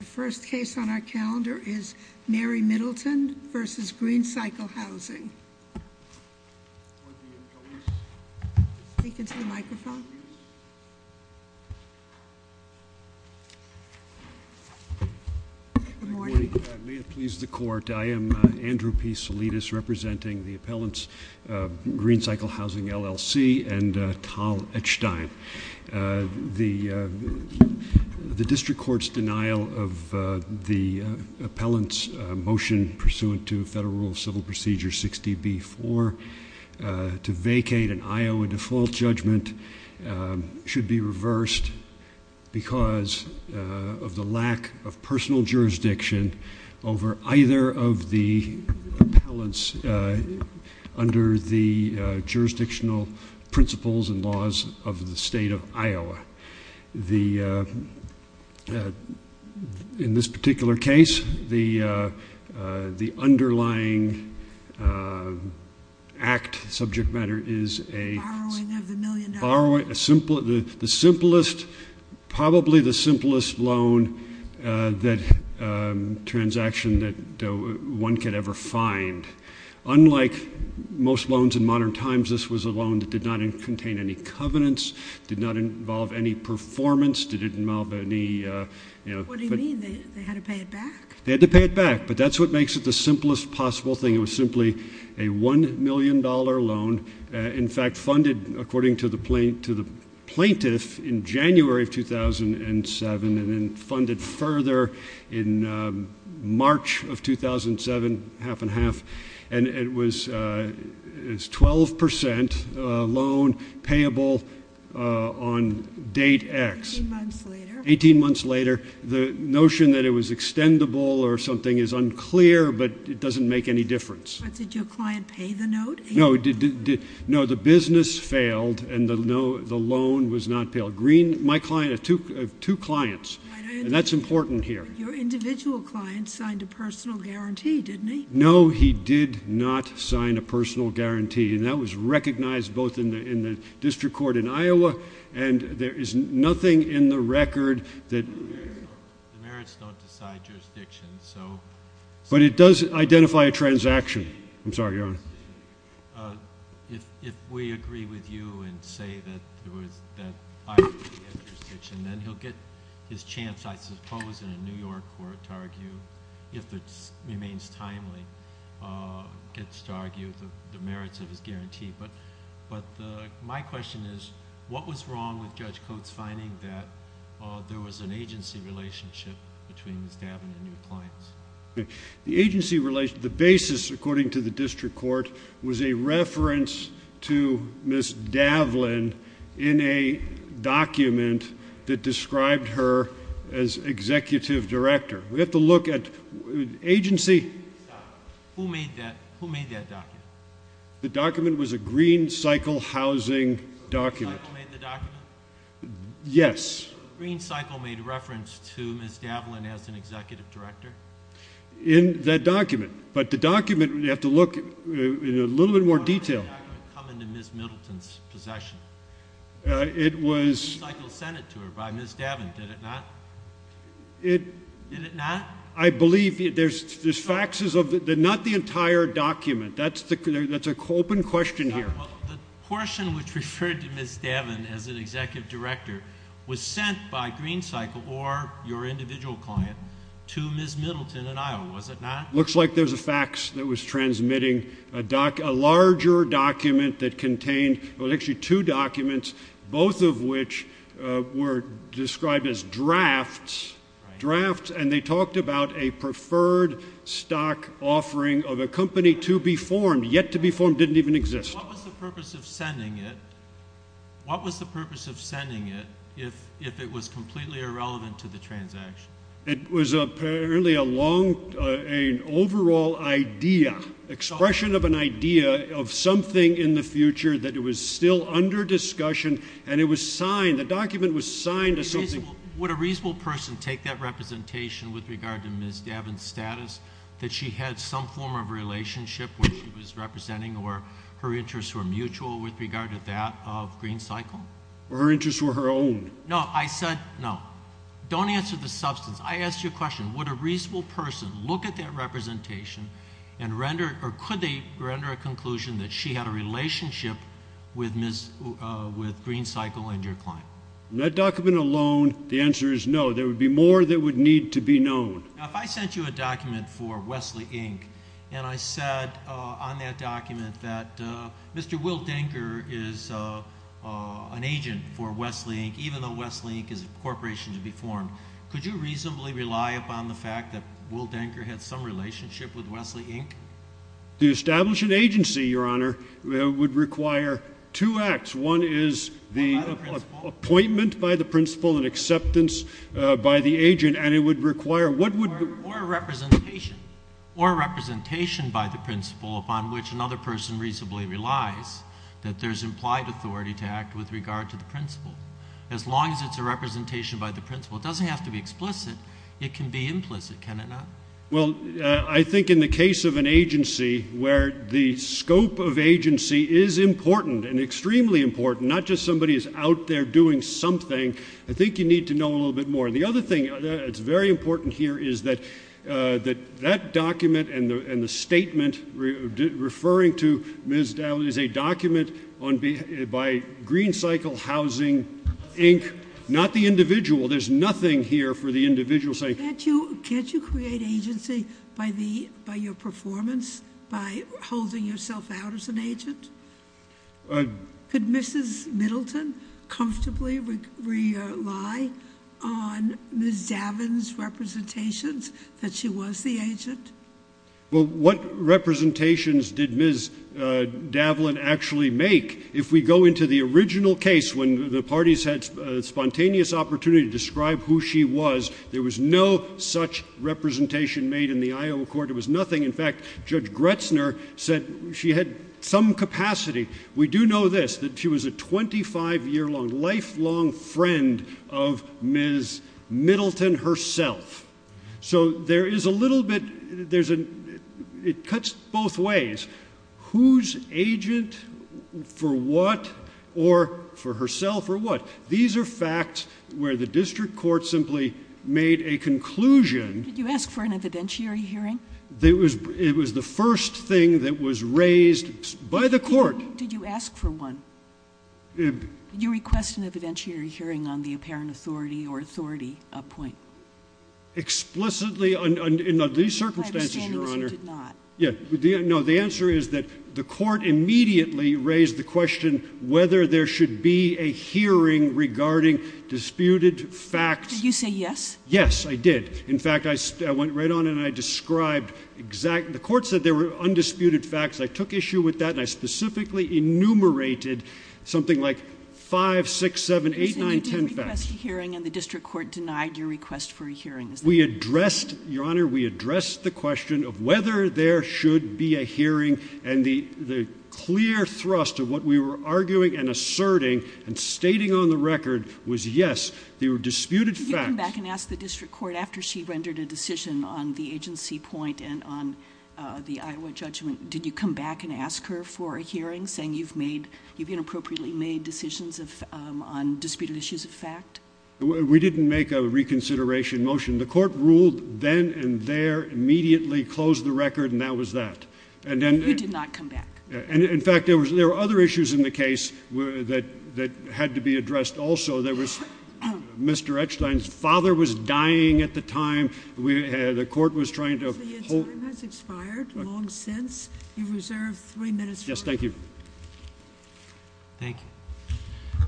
The first case on our calendar is Mary Middleton v. Green Cycle Housing. Good morning. May it please the Court, I am Andrew P. Salidas, representing the appellants Green Cycle Housing LLC and Tal Echstein. The District Court's denial of the appellant's motion pursuant to Federal Rule of Civil Procedure 60B-4 to vacate an Iowa default judgment should be reversed because of the lack of personal jurisdiction over either of the appellants under the jurisdictional principles and laws of the state. In this particular case, the underlying act, subject matter, is the simplest, probably the simplest loan transaction that one could ever find. Unlike most loans in modern times, this was a loan that did not contain any covenants, did not involve any performance, did not involve any... What do you mean? They had to pay it back? They had to pay it back, but that's what makes it the simplest possible thing. It was simply a $1 million loan, in fact funded according to the plaintiff in January of 2007 and then funded further in March of 2007, half and half, and it was 12% loan payable on date X. Eighteen months later. Eighteen months later. The notion that it was extendable or something is unclear, but it doesn't make any difference. But did your client pay the note? No, the business failed and the loan was not paid. My client had two clients, and that's important here. Your individual client signed a personal guarantee, didn't he? No, he did not sign a personal guarantee, and that was recognized both in the district court in Iowa and there is nothing in the record that... The merits don't decide jurisdiction, so... But it does identify a transaction. I'm sorry, Your Honor. If we agree with you and say that Iowa has jurisdiction, then he'll get his chance, I suppose, in a New York court to argue, if it remains timely, gets to argue the merits of his guarantee. But my question is, what was wrong with Judge Coates' finding that there was an agency relationship between the Staben and your clients? The agency relationship, the basis, according to the district court, was a reference to Ms. Davlin in a document that described her as executive director. We have to look at agency... Who made that document? The document was a Green Cycle housing document. Green Cycle made the document? Yes. Green Cycle made reference to Ms. Davlin as an executive director? In that document, but the document, we have to look in a little bit more detail. How did that document come into Ms. Middleton's possession? It was... Green Cycle sent it to her by Ms. Davlin, did it not? It... Did it not? I believe there's faxes of... Not the entire document. That's an open question here. The portion which referred to Ms. Davlin as an executive director was sent by Green Cycle or your individual client to Ms. Middleton in Iowa, was it not? Looks like there's a fax that was transmitting a larger document that contained... It was actually two documents, both of which were described as drafts. Drafts, and they talked about a preferred stock offering of a company to be formed. Yet to be formed didn't even exist. What was the purpose of sending it if it was completely irrelevant to the transaction? It was apparently a long, an overall idea, expression of an idea of something in the future that was still under discussion and it was signed. The document was signed as something... Would a reasonable person take that representation with regard to Ms. Davlin's status, that she had some form of relationship where she was representing or her interests were mutual with regard to that of Green Cycle? Her interests were her own. No, I said no. Don't answer the substance. I asked you a question. Would a reasonable person look at that representation and render, or could they render a conclusion that she had a relationship with Ms., with Green Cycle and your client? In that document alone, the answer is no. There would be more that would need to be known. Now, if I sent you a document for Wesley, Inc., and I said on that document that Mr. Will Denker is an agent for Wesley, Inc., even though Wesley, Inc. is a corporation to be formed, could you reasonably rely upon the fact that Will Denker had some relationship with Wesley, Inc.? To establish an agency, Your Honor, would require two acts. One is the appointment by the principal and acceptance by the agent, and it would require... Or a representation. Or a representation by the principal upon which another person reasonably relies that there's implied authority to act with regard to the principal. As long as it's a representation by the principal, it doesn't have to be explicit. It can be implicit, can it not? Well, I think in the case of an agency where the scope of agency is important and extremely important, not just somebody who's out there doing something, I think you need to know a little bit more. The other thing that's very important here is that that document and the statement referring to Ms. Dowd is a document by Green Cycle Housing, Inc., not the individual. There's nothing here for the individual saying... Can't you create agency by your performance, by holding yourself out as an agent? Could Mrs. Middleton comfortably rely on Ms. Daven's representations that she was the agent? Well, what representations did Ms. Daven actually make? If we go into the original case, when the parties had spontaneous opportunity to describe who she was, there was no such representation made in the Iowa court. It was nothing. In fact, Judge Gretzner said she had some capacity. We do know this, that she was a 25-year-long, lifelong friend of Ms. Middleton herself. So there is a little bit... It cuts both ways. Who's agent for what or for herself or what? These are facts where the district court simply made a conclusion... Did you ask for an evidentiary hearing? It was the first thing that was raised by the court. Did you ask for one? Did you request an evidentiary hearing on the apparent authority or authority point? Explicitly, in these circumstances, Your Honor... I understand that you did not. No, the answer is that the court immediately raised the question whether there should be a hearing regarding disputed facts. Did you say yes? Yes, I did. In fact, I went right on and I described exact... I took issue with that and I specifically enumerated something like 5, 6, 7, 8, 9, 10 facts. So you did request a hearing and the district court denied your request for a hearing. We addressed, Your Honor, we addressed the question of whether there should be a hearing and the clear thrust of what we were arguing and asserting and stating on the record was yes, they were disputed facts. Did you come back and ask the district court after she rendered a decision on the agency point and on the Iowa judgment, did you come back and ask her for a hearing saying you've made, you've inappropriately made decisions on disputed issues of fact? We didn't make a reconsideration motion. The court ruled then and there, immediately closed the record and that was that. You did not come back. In fact, there were other issues in the case that had to be addressed also. There was Mr. Eckstein's father was dying at the time. The court was trying to... Your time has expired long since. You've reserved three minutes for... Yes, thank you. Thank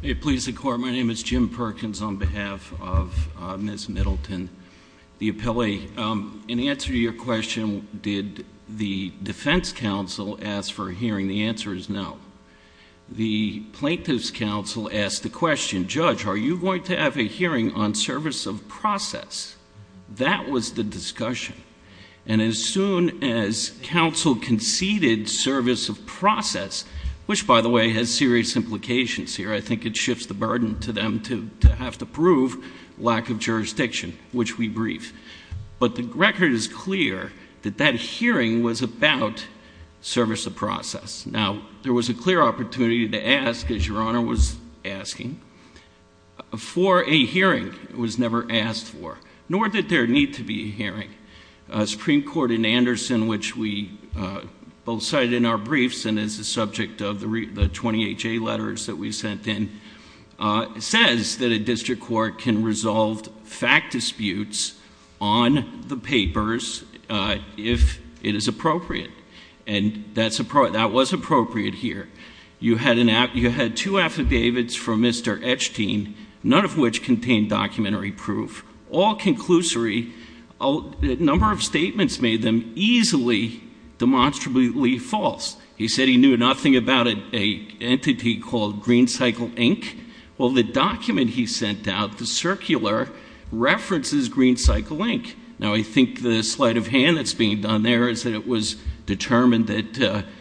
you. Please, the court. My name is Jim Perkins on behalf of Ms. Middleton, the appellee. In answer to your question, did the defense counsel ask for a hearing? The answer is no. The plaintiff's counsel asked the question, judge, are you going to have a hearing on service of process? That was the discussion. And as soon as counsel conceded service of process, which by the way has serious implications here, I think it shifts the burden to them to have to prove lack of jurisdiction, which we brief. But the record is clear that that hearing was about service of process. Now, there was a clear opportunity to ask, as your Honor was asking, for a hearing. It was never asked for, nor did there need to be a hearing. Supreme Court in Anderson, which we both cited in our briefs and is the subject of the 20HA letters that we sent in, says that a district court can resolve fact disputes on the papers if it is appropriate. And that was appropriate here. You had two affidavits from Mr. Etchteen, none of which contained documentary proof, all conclusory. A number of statements made them easily demonstrably false. He said he knew nothing about an entity called Green Cycle, Inc. Well, the document he sent out, the circular, references Green Cycle, Inc. Now, I think the sleight of hand that's being done there is that it was determined that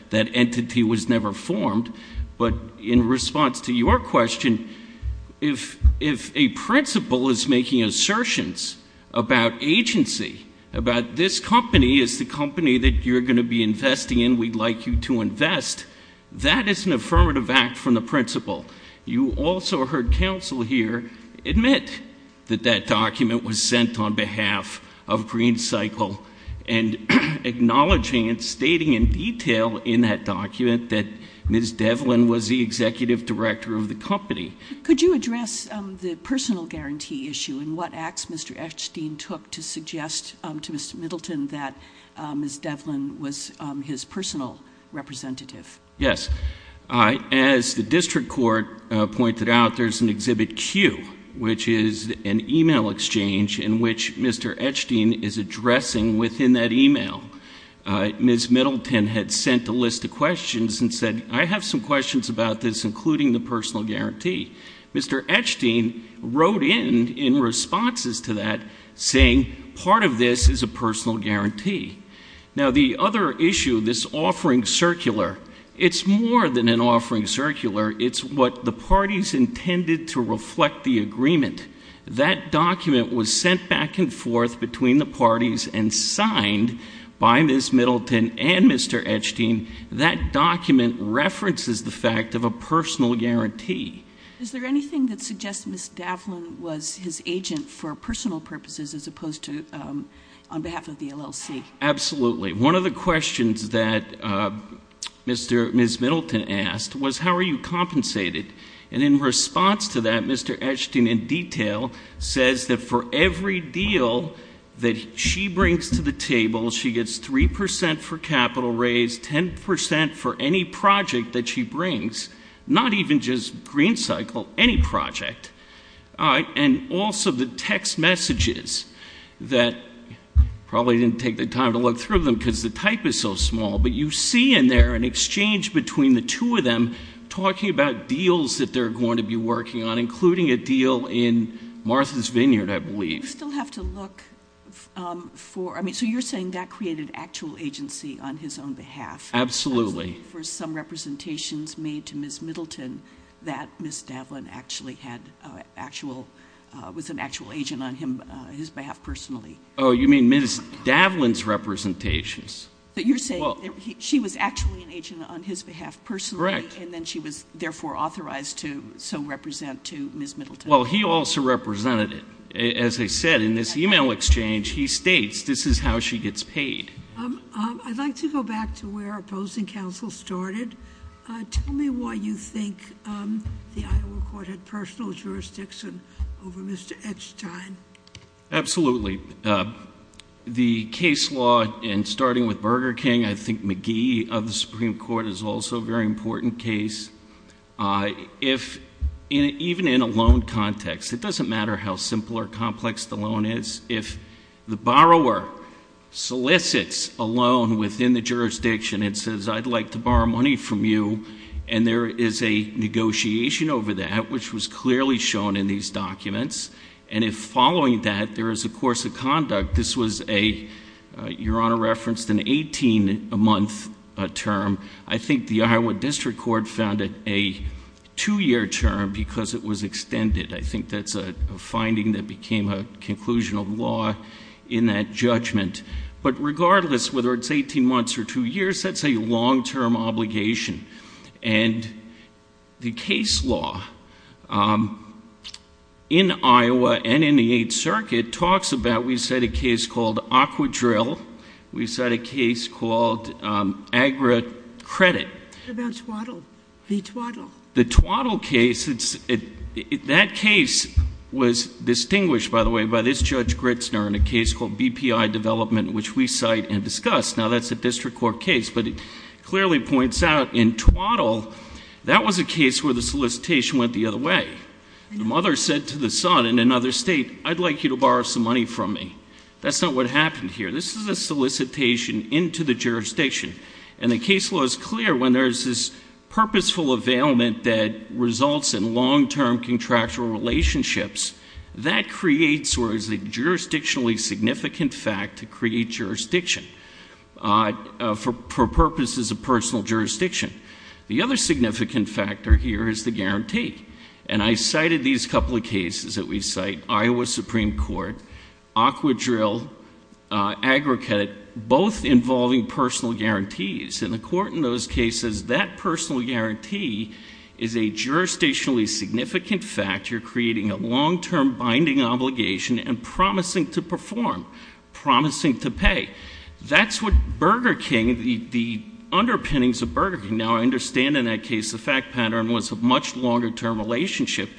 that entity was never formed. But in response to your question, if a principal is making assertions about agency, about this company is the company that you're going to be investing in, we'd like you to invest, that is an affirmative act from the principal. You also heard counsel here admit that that document was sent on behalf of Green Cycle and acknowledging and stating in detail in that document that Ms. Devlin was the executive director of the company. Could you address the personal guarantee issue and what acts Mr. Etchteen took to suggest to Mr. Middleton that Ms. Devlin was his personal representative? Yes. As the district court pointed out, there's an Exhibit Q, which is an e-mail exchange in which Mr. Etchteen is addressing within that e-mail. Ms. Middleton had sent a list of questions and said, I have some questions about this, including the personal guarantee. Mr. Etchteen wrote in, in responses to that, saying part of this is a personal guarantee. Now, the other issue, this offering circular, it's more than an offering circular. It's what the parties intended to reflect the agreement. That document was sent back and forth between the parties and signed by Ms. Middleton and Mr. Etchteen. That document references the fact of a personal guarantee. Is there anything that suggests Ms. Devlin was his agent for personal purposes as opposed to on behalf of the LLC? Absolutely. One of the questions that Ms. Middleton asked was, how are you compensated? And in response to that, Mr. Etchteen in detail says that for every deal that she brings to the table, she gets 3% for capital raise, 10% for any project that she brings, not even just Green Cycle, any project. And also the text messages that probably didn't take the time to look through them because the type is so small, but you see in there an exchange between the two of them talking about deals that they're going to be working on, including a deal in Martha's Vineyard, I believe. So you're saying that created actual agency on his own behalf. Absolutely. For some representations made to Ms. Middleton that Ms. Devlin was an actual agent on his behalf personally. Oh, you mean Ms. Devlin's representations. But you're saying she was actually an agent on his behalf personally. Correct. And then she was therefore authorized to so represent to Ms. Middleton. Well, he also represented it. As I said, in this email exchange, he states this is how she gets paid. I'd like to go back to where opposing counsel started. Tell me why you think the Iowa court had personal jurisdiction over Mr. Etchteen. Absolutely. The case law, and starting with Burger King, I think McGee of the Supreme Court is also a very important case. Even in a loan context, it doesn't matter how simple or complex the loan is. If the borrower solicits a loan within the jurisdiction and says, I'd like to borrow money from you, and there is a negotiation over that, which was clearly shown in these documents, and if following that there is a course of conduct, this was a, Your Honor referenced, an 18-month term, I think the Iowa District Court found it a two-year term because it was extended. I think that's a finding that became a conclusion of law in that judgment. But regardless, whether it's 18 months or two years, that's a long-term obligation. And the case law in Iowa and in the Eighth Circuit talks about, we've set a case called Aquadrill. We've set a case called Agra Credit. What about Twaddle? The Twaddle. The Twaddle case, that case was distinguished, by the way, by this Judge Gritzner in a case called BPI Development, which we cite and discuss. Now, that's a district court case, but it clearly points out in Twaddle, that was a case where the solicitation went the other way. The mother said to the son in another state, I'd like you to borrow some money from me. That's not what happened here. This is a solicitation into the jurisdiction. And the case law is clear. When there's this purposeful availment that results in long-term contractual relationships, that creates or is a jurisdictionally significant fact to create jurisdiction for purposes of personal jurisdiction. The other significant factor here is the guarantee. And I cited these couple of cases that we cite. Iowa Supreme Court, Aquadrill, Agra Credit, both involving personal guarantees. And the court in those cases, that personal guarantee is a jurisdictionally significant factor creating a long-term binding obligation and promising to perform, promising to pay. That's what Burger King, the underpinnings of Burger King. Now, I understand in that case, the fact pattern was a much longer-term relationship.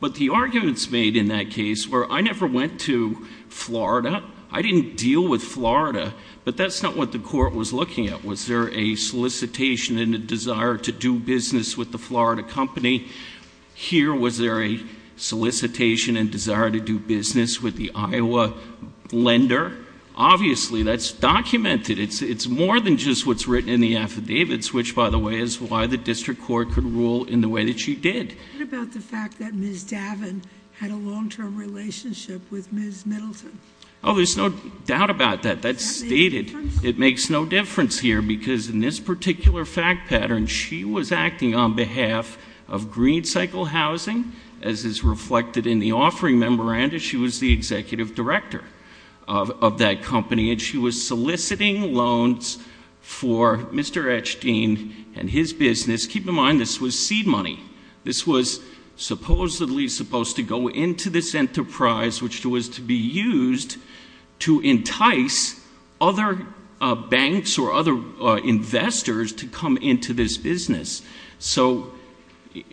But the arguments made in that case were, I never went to Florida. I didn't deal with Florida. But that's not what the court was looking at. Was there a solicitation and a desire to do business with the Florida company? Here, was there a solicitation and desire to do business with the Iowa lender? Obviously, that's documented. It's more than just what's written in the affidavits, which, by the way, is why the district court could rule in the way that she did. What about the fact that Ms. Davin had a long-term relationship with Ms. Middleton? Oh, there's no doubt about that. That's stated. It makes no difference here, because in this particular fact pattern, she was acting on behalf of Green Cycle Housing, as is reflected in the offering memoranda. She was the executive director of that company. And she was soliciting loans for Mr. Echstein and his business. Keep in mind, this was seed money. This was supposedly supposed to go into this enterprise, which was to be used to entice other banks or other investors to come into this business. So,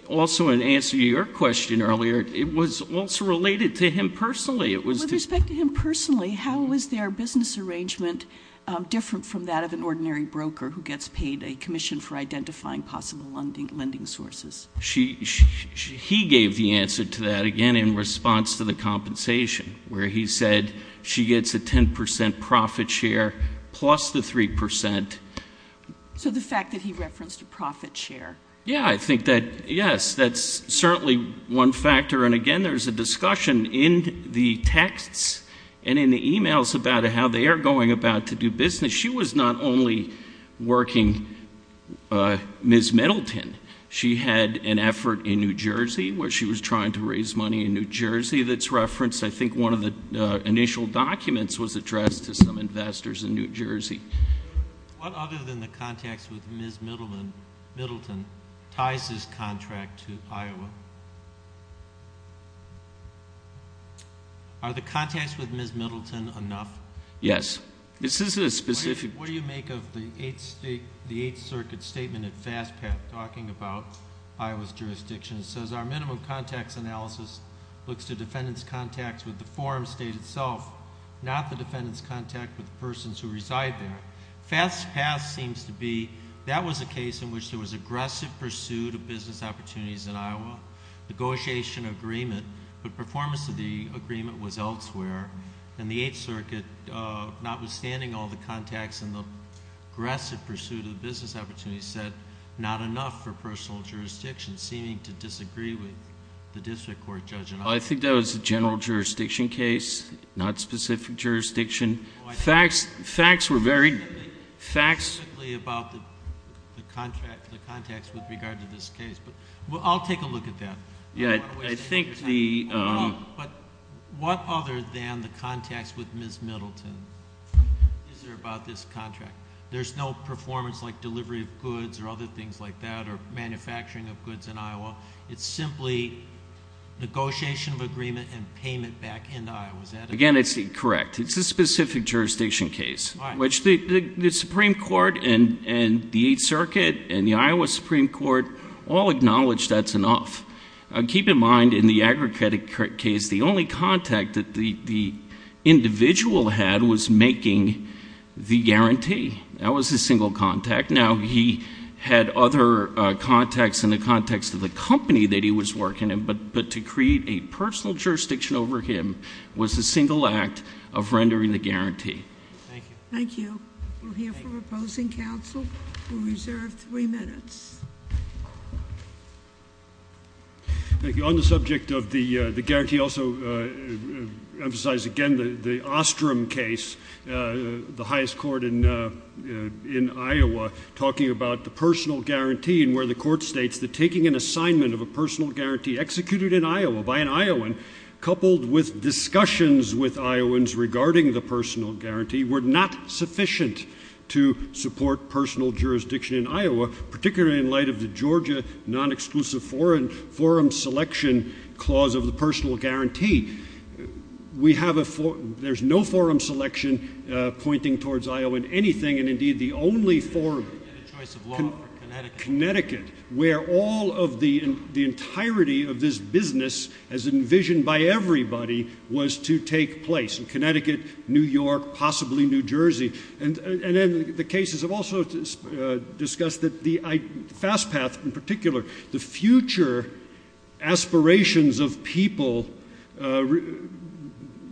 also, in answer to your question earlier, it was also related to him personally. With respect to him personally, how was their business arrangement different from that of an ordinary broker who gets paid a commission for identifying possible lending sources? He gave the answer to that, again, in response to the compensation, where he said she gets a 10 percent profit share plus the 3 percent. So the fact that he referenced a profit share. Yeah, I think that, yes, that's certainly one factor. And, again, there's a discussion in the texts and in the e-mails about how they are going about to do business. She was not only working Ms. Middleton. She had an effort in New Jersey where she was trying to raise money in New Jersey that's referenced. I think one of the initial documents was addressed to some investors in New Jersey. What other than the contacts with Ms. Middleton ties this contract to Iowa? Are the contacts with Ms. Middleton enough? Yes. This is a specific. What do you make of the Eighth Circuit statement at FASTPAT talking about Iowa's jurisdiction? It says, our minimum contacts analysis looks to defendants' contacts with the forum state itself, not the defendant's contact with the persons who reside there. FASTPAT seems to be, that was a case in which there was aggressive pursuit of business opportunities in Iowa, negotiation agreement, but performance of the agreement was elsewhere. And the Eighth Circuit, notwithstanding all the contacts and the aggressive pursuit of business opportunities, said not enough for personal jurisdiction, seeming to disagree with the district court judge in Iowa. Well, I think that was a general jurisdiction case, not specific jurisdiction. Facts were very, facts. Specifically about the contacts with regard to this case. I'll take a look at that. I think the. But what other than the contacts with Ms. Middleton is there about this contract? There's no performance like delivery of goods or other things like that or manufacturing of goods in Iowa. It's simply negotiation of agreement and payment back into Iowa. Again, it's incorrect. It's a specific jurisdiction case. Which the Supreme Court and the Eighth Circuit and the Iowa Supreme Court all acknowledge that's enough. Keep in mind, in the Aggregate case, the only contact that the individual had was making the guarantee. That was his single contact. Now, he had other contacts in the context of the company that he was working in, but to create a personal jurisdiction over him was a single act of rendering the guarantee. Thank you. Thank you. We'll hear from opposing counsel. We'll reserve three minutes. Thank you. The guarantee also emphasized, again, the Ostrom case, the highest court in Iowa, talking about the personal guarantee and where the court states that taking an assignment of a personal guarantee executed in Iowa by an Iowan coupled with discussions with Iowans regarding the personal guarantee were not sufficient to support personal jurisdiction in Iowa, particularly in light of the Georgia non-exclusive forum selection clause of the personal guarantee. We have a forum. There's no forum selection pointing towards Iowan anything, and indeed the only forum in Connecticut where all of the entirety of this business, as envisioned by everybody, was to take place in Connecticut, New York, possibly New Jersey. And then the cases have also discussed that the fast path in particular, the future aspirations of people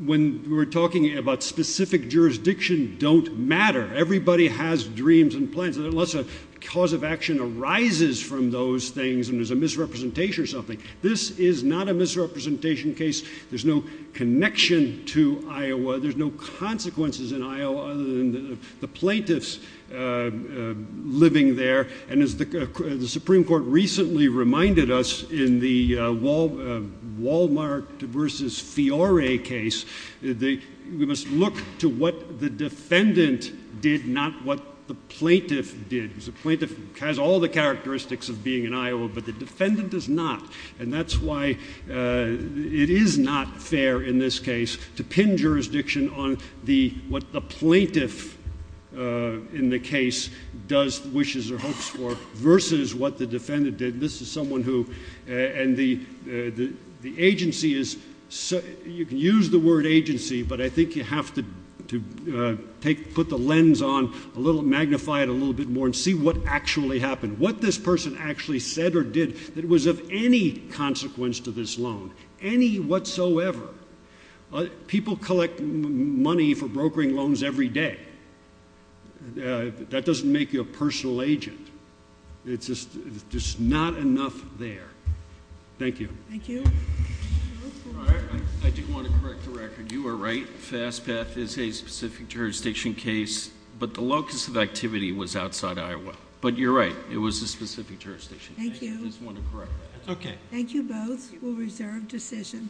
when we're talking about specific jurisdiction don't matter. Everybody has dreams and plans, unless a cause of action arises from those things and there's a misrepresentation or something. This is not a misrepresentation case. There's no connection to Iowa. There's no consequences in Iowa other than the plaintiffs living there. And as the Supreme Court recently reminded us in the Wal-Mart versus Fiore case, we must look to what the defendant did, not what the plaintiff did. The plaintiff has all the characteristics of being in Iowa, but the defendant does not. And that's why it is not fair in this case to pin jurisdiction on what the plaintiff in the case does, wishes or hopes for, versus what the defendant did. This is someone who, and the agency is, you can use the word agency, but I think you have to put the lens on, magnify it a little bit more and see what actually happened. What this person actually said or did that was of any consequence to this loan, any whatsoever. People collect money for brokering loans every day. That doesn't make you a personal agent. It's just not enough there. Thank you. Thank you. I do want to correct the record. You were right. FastPath is a specific jurisdiction case, but the locus of activity was outside Iowa. But you're right. It was a specific jurisdiction. Thank you. I just want to correct that. Okay. Thank you both. We'll reserve decision.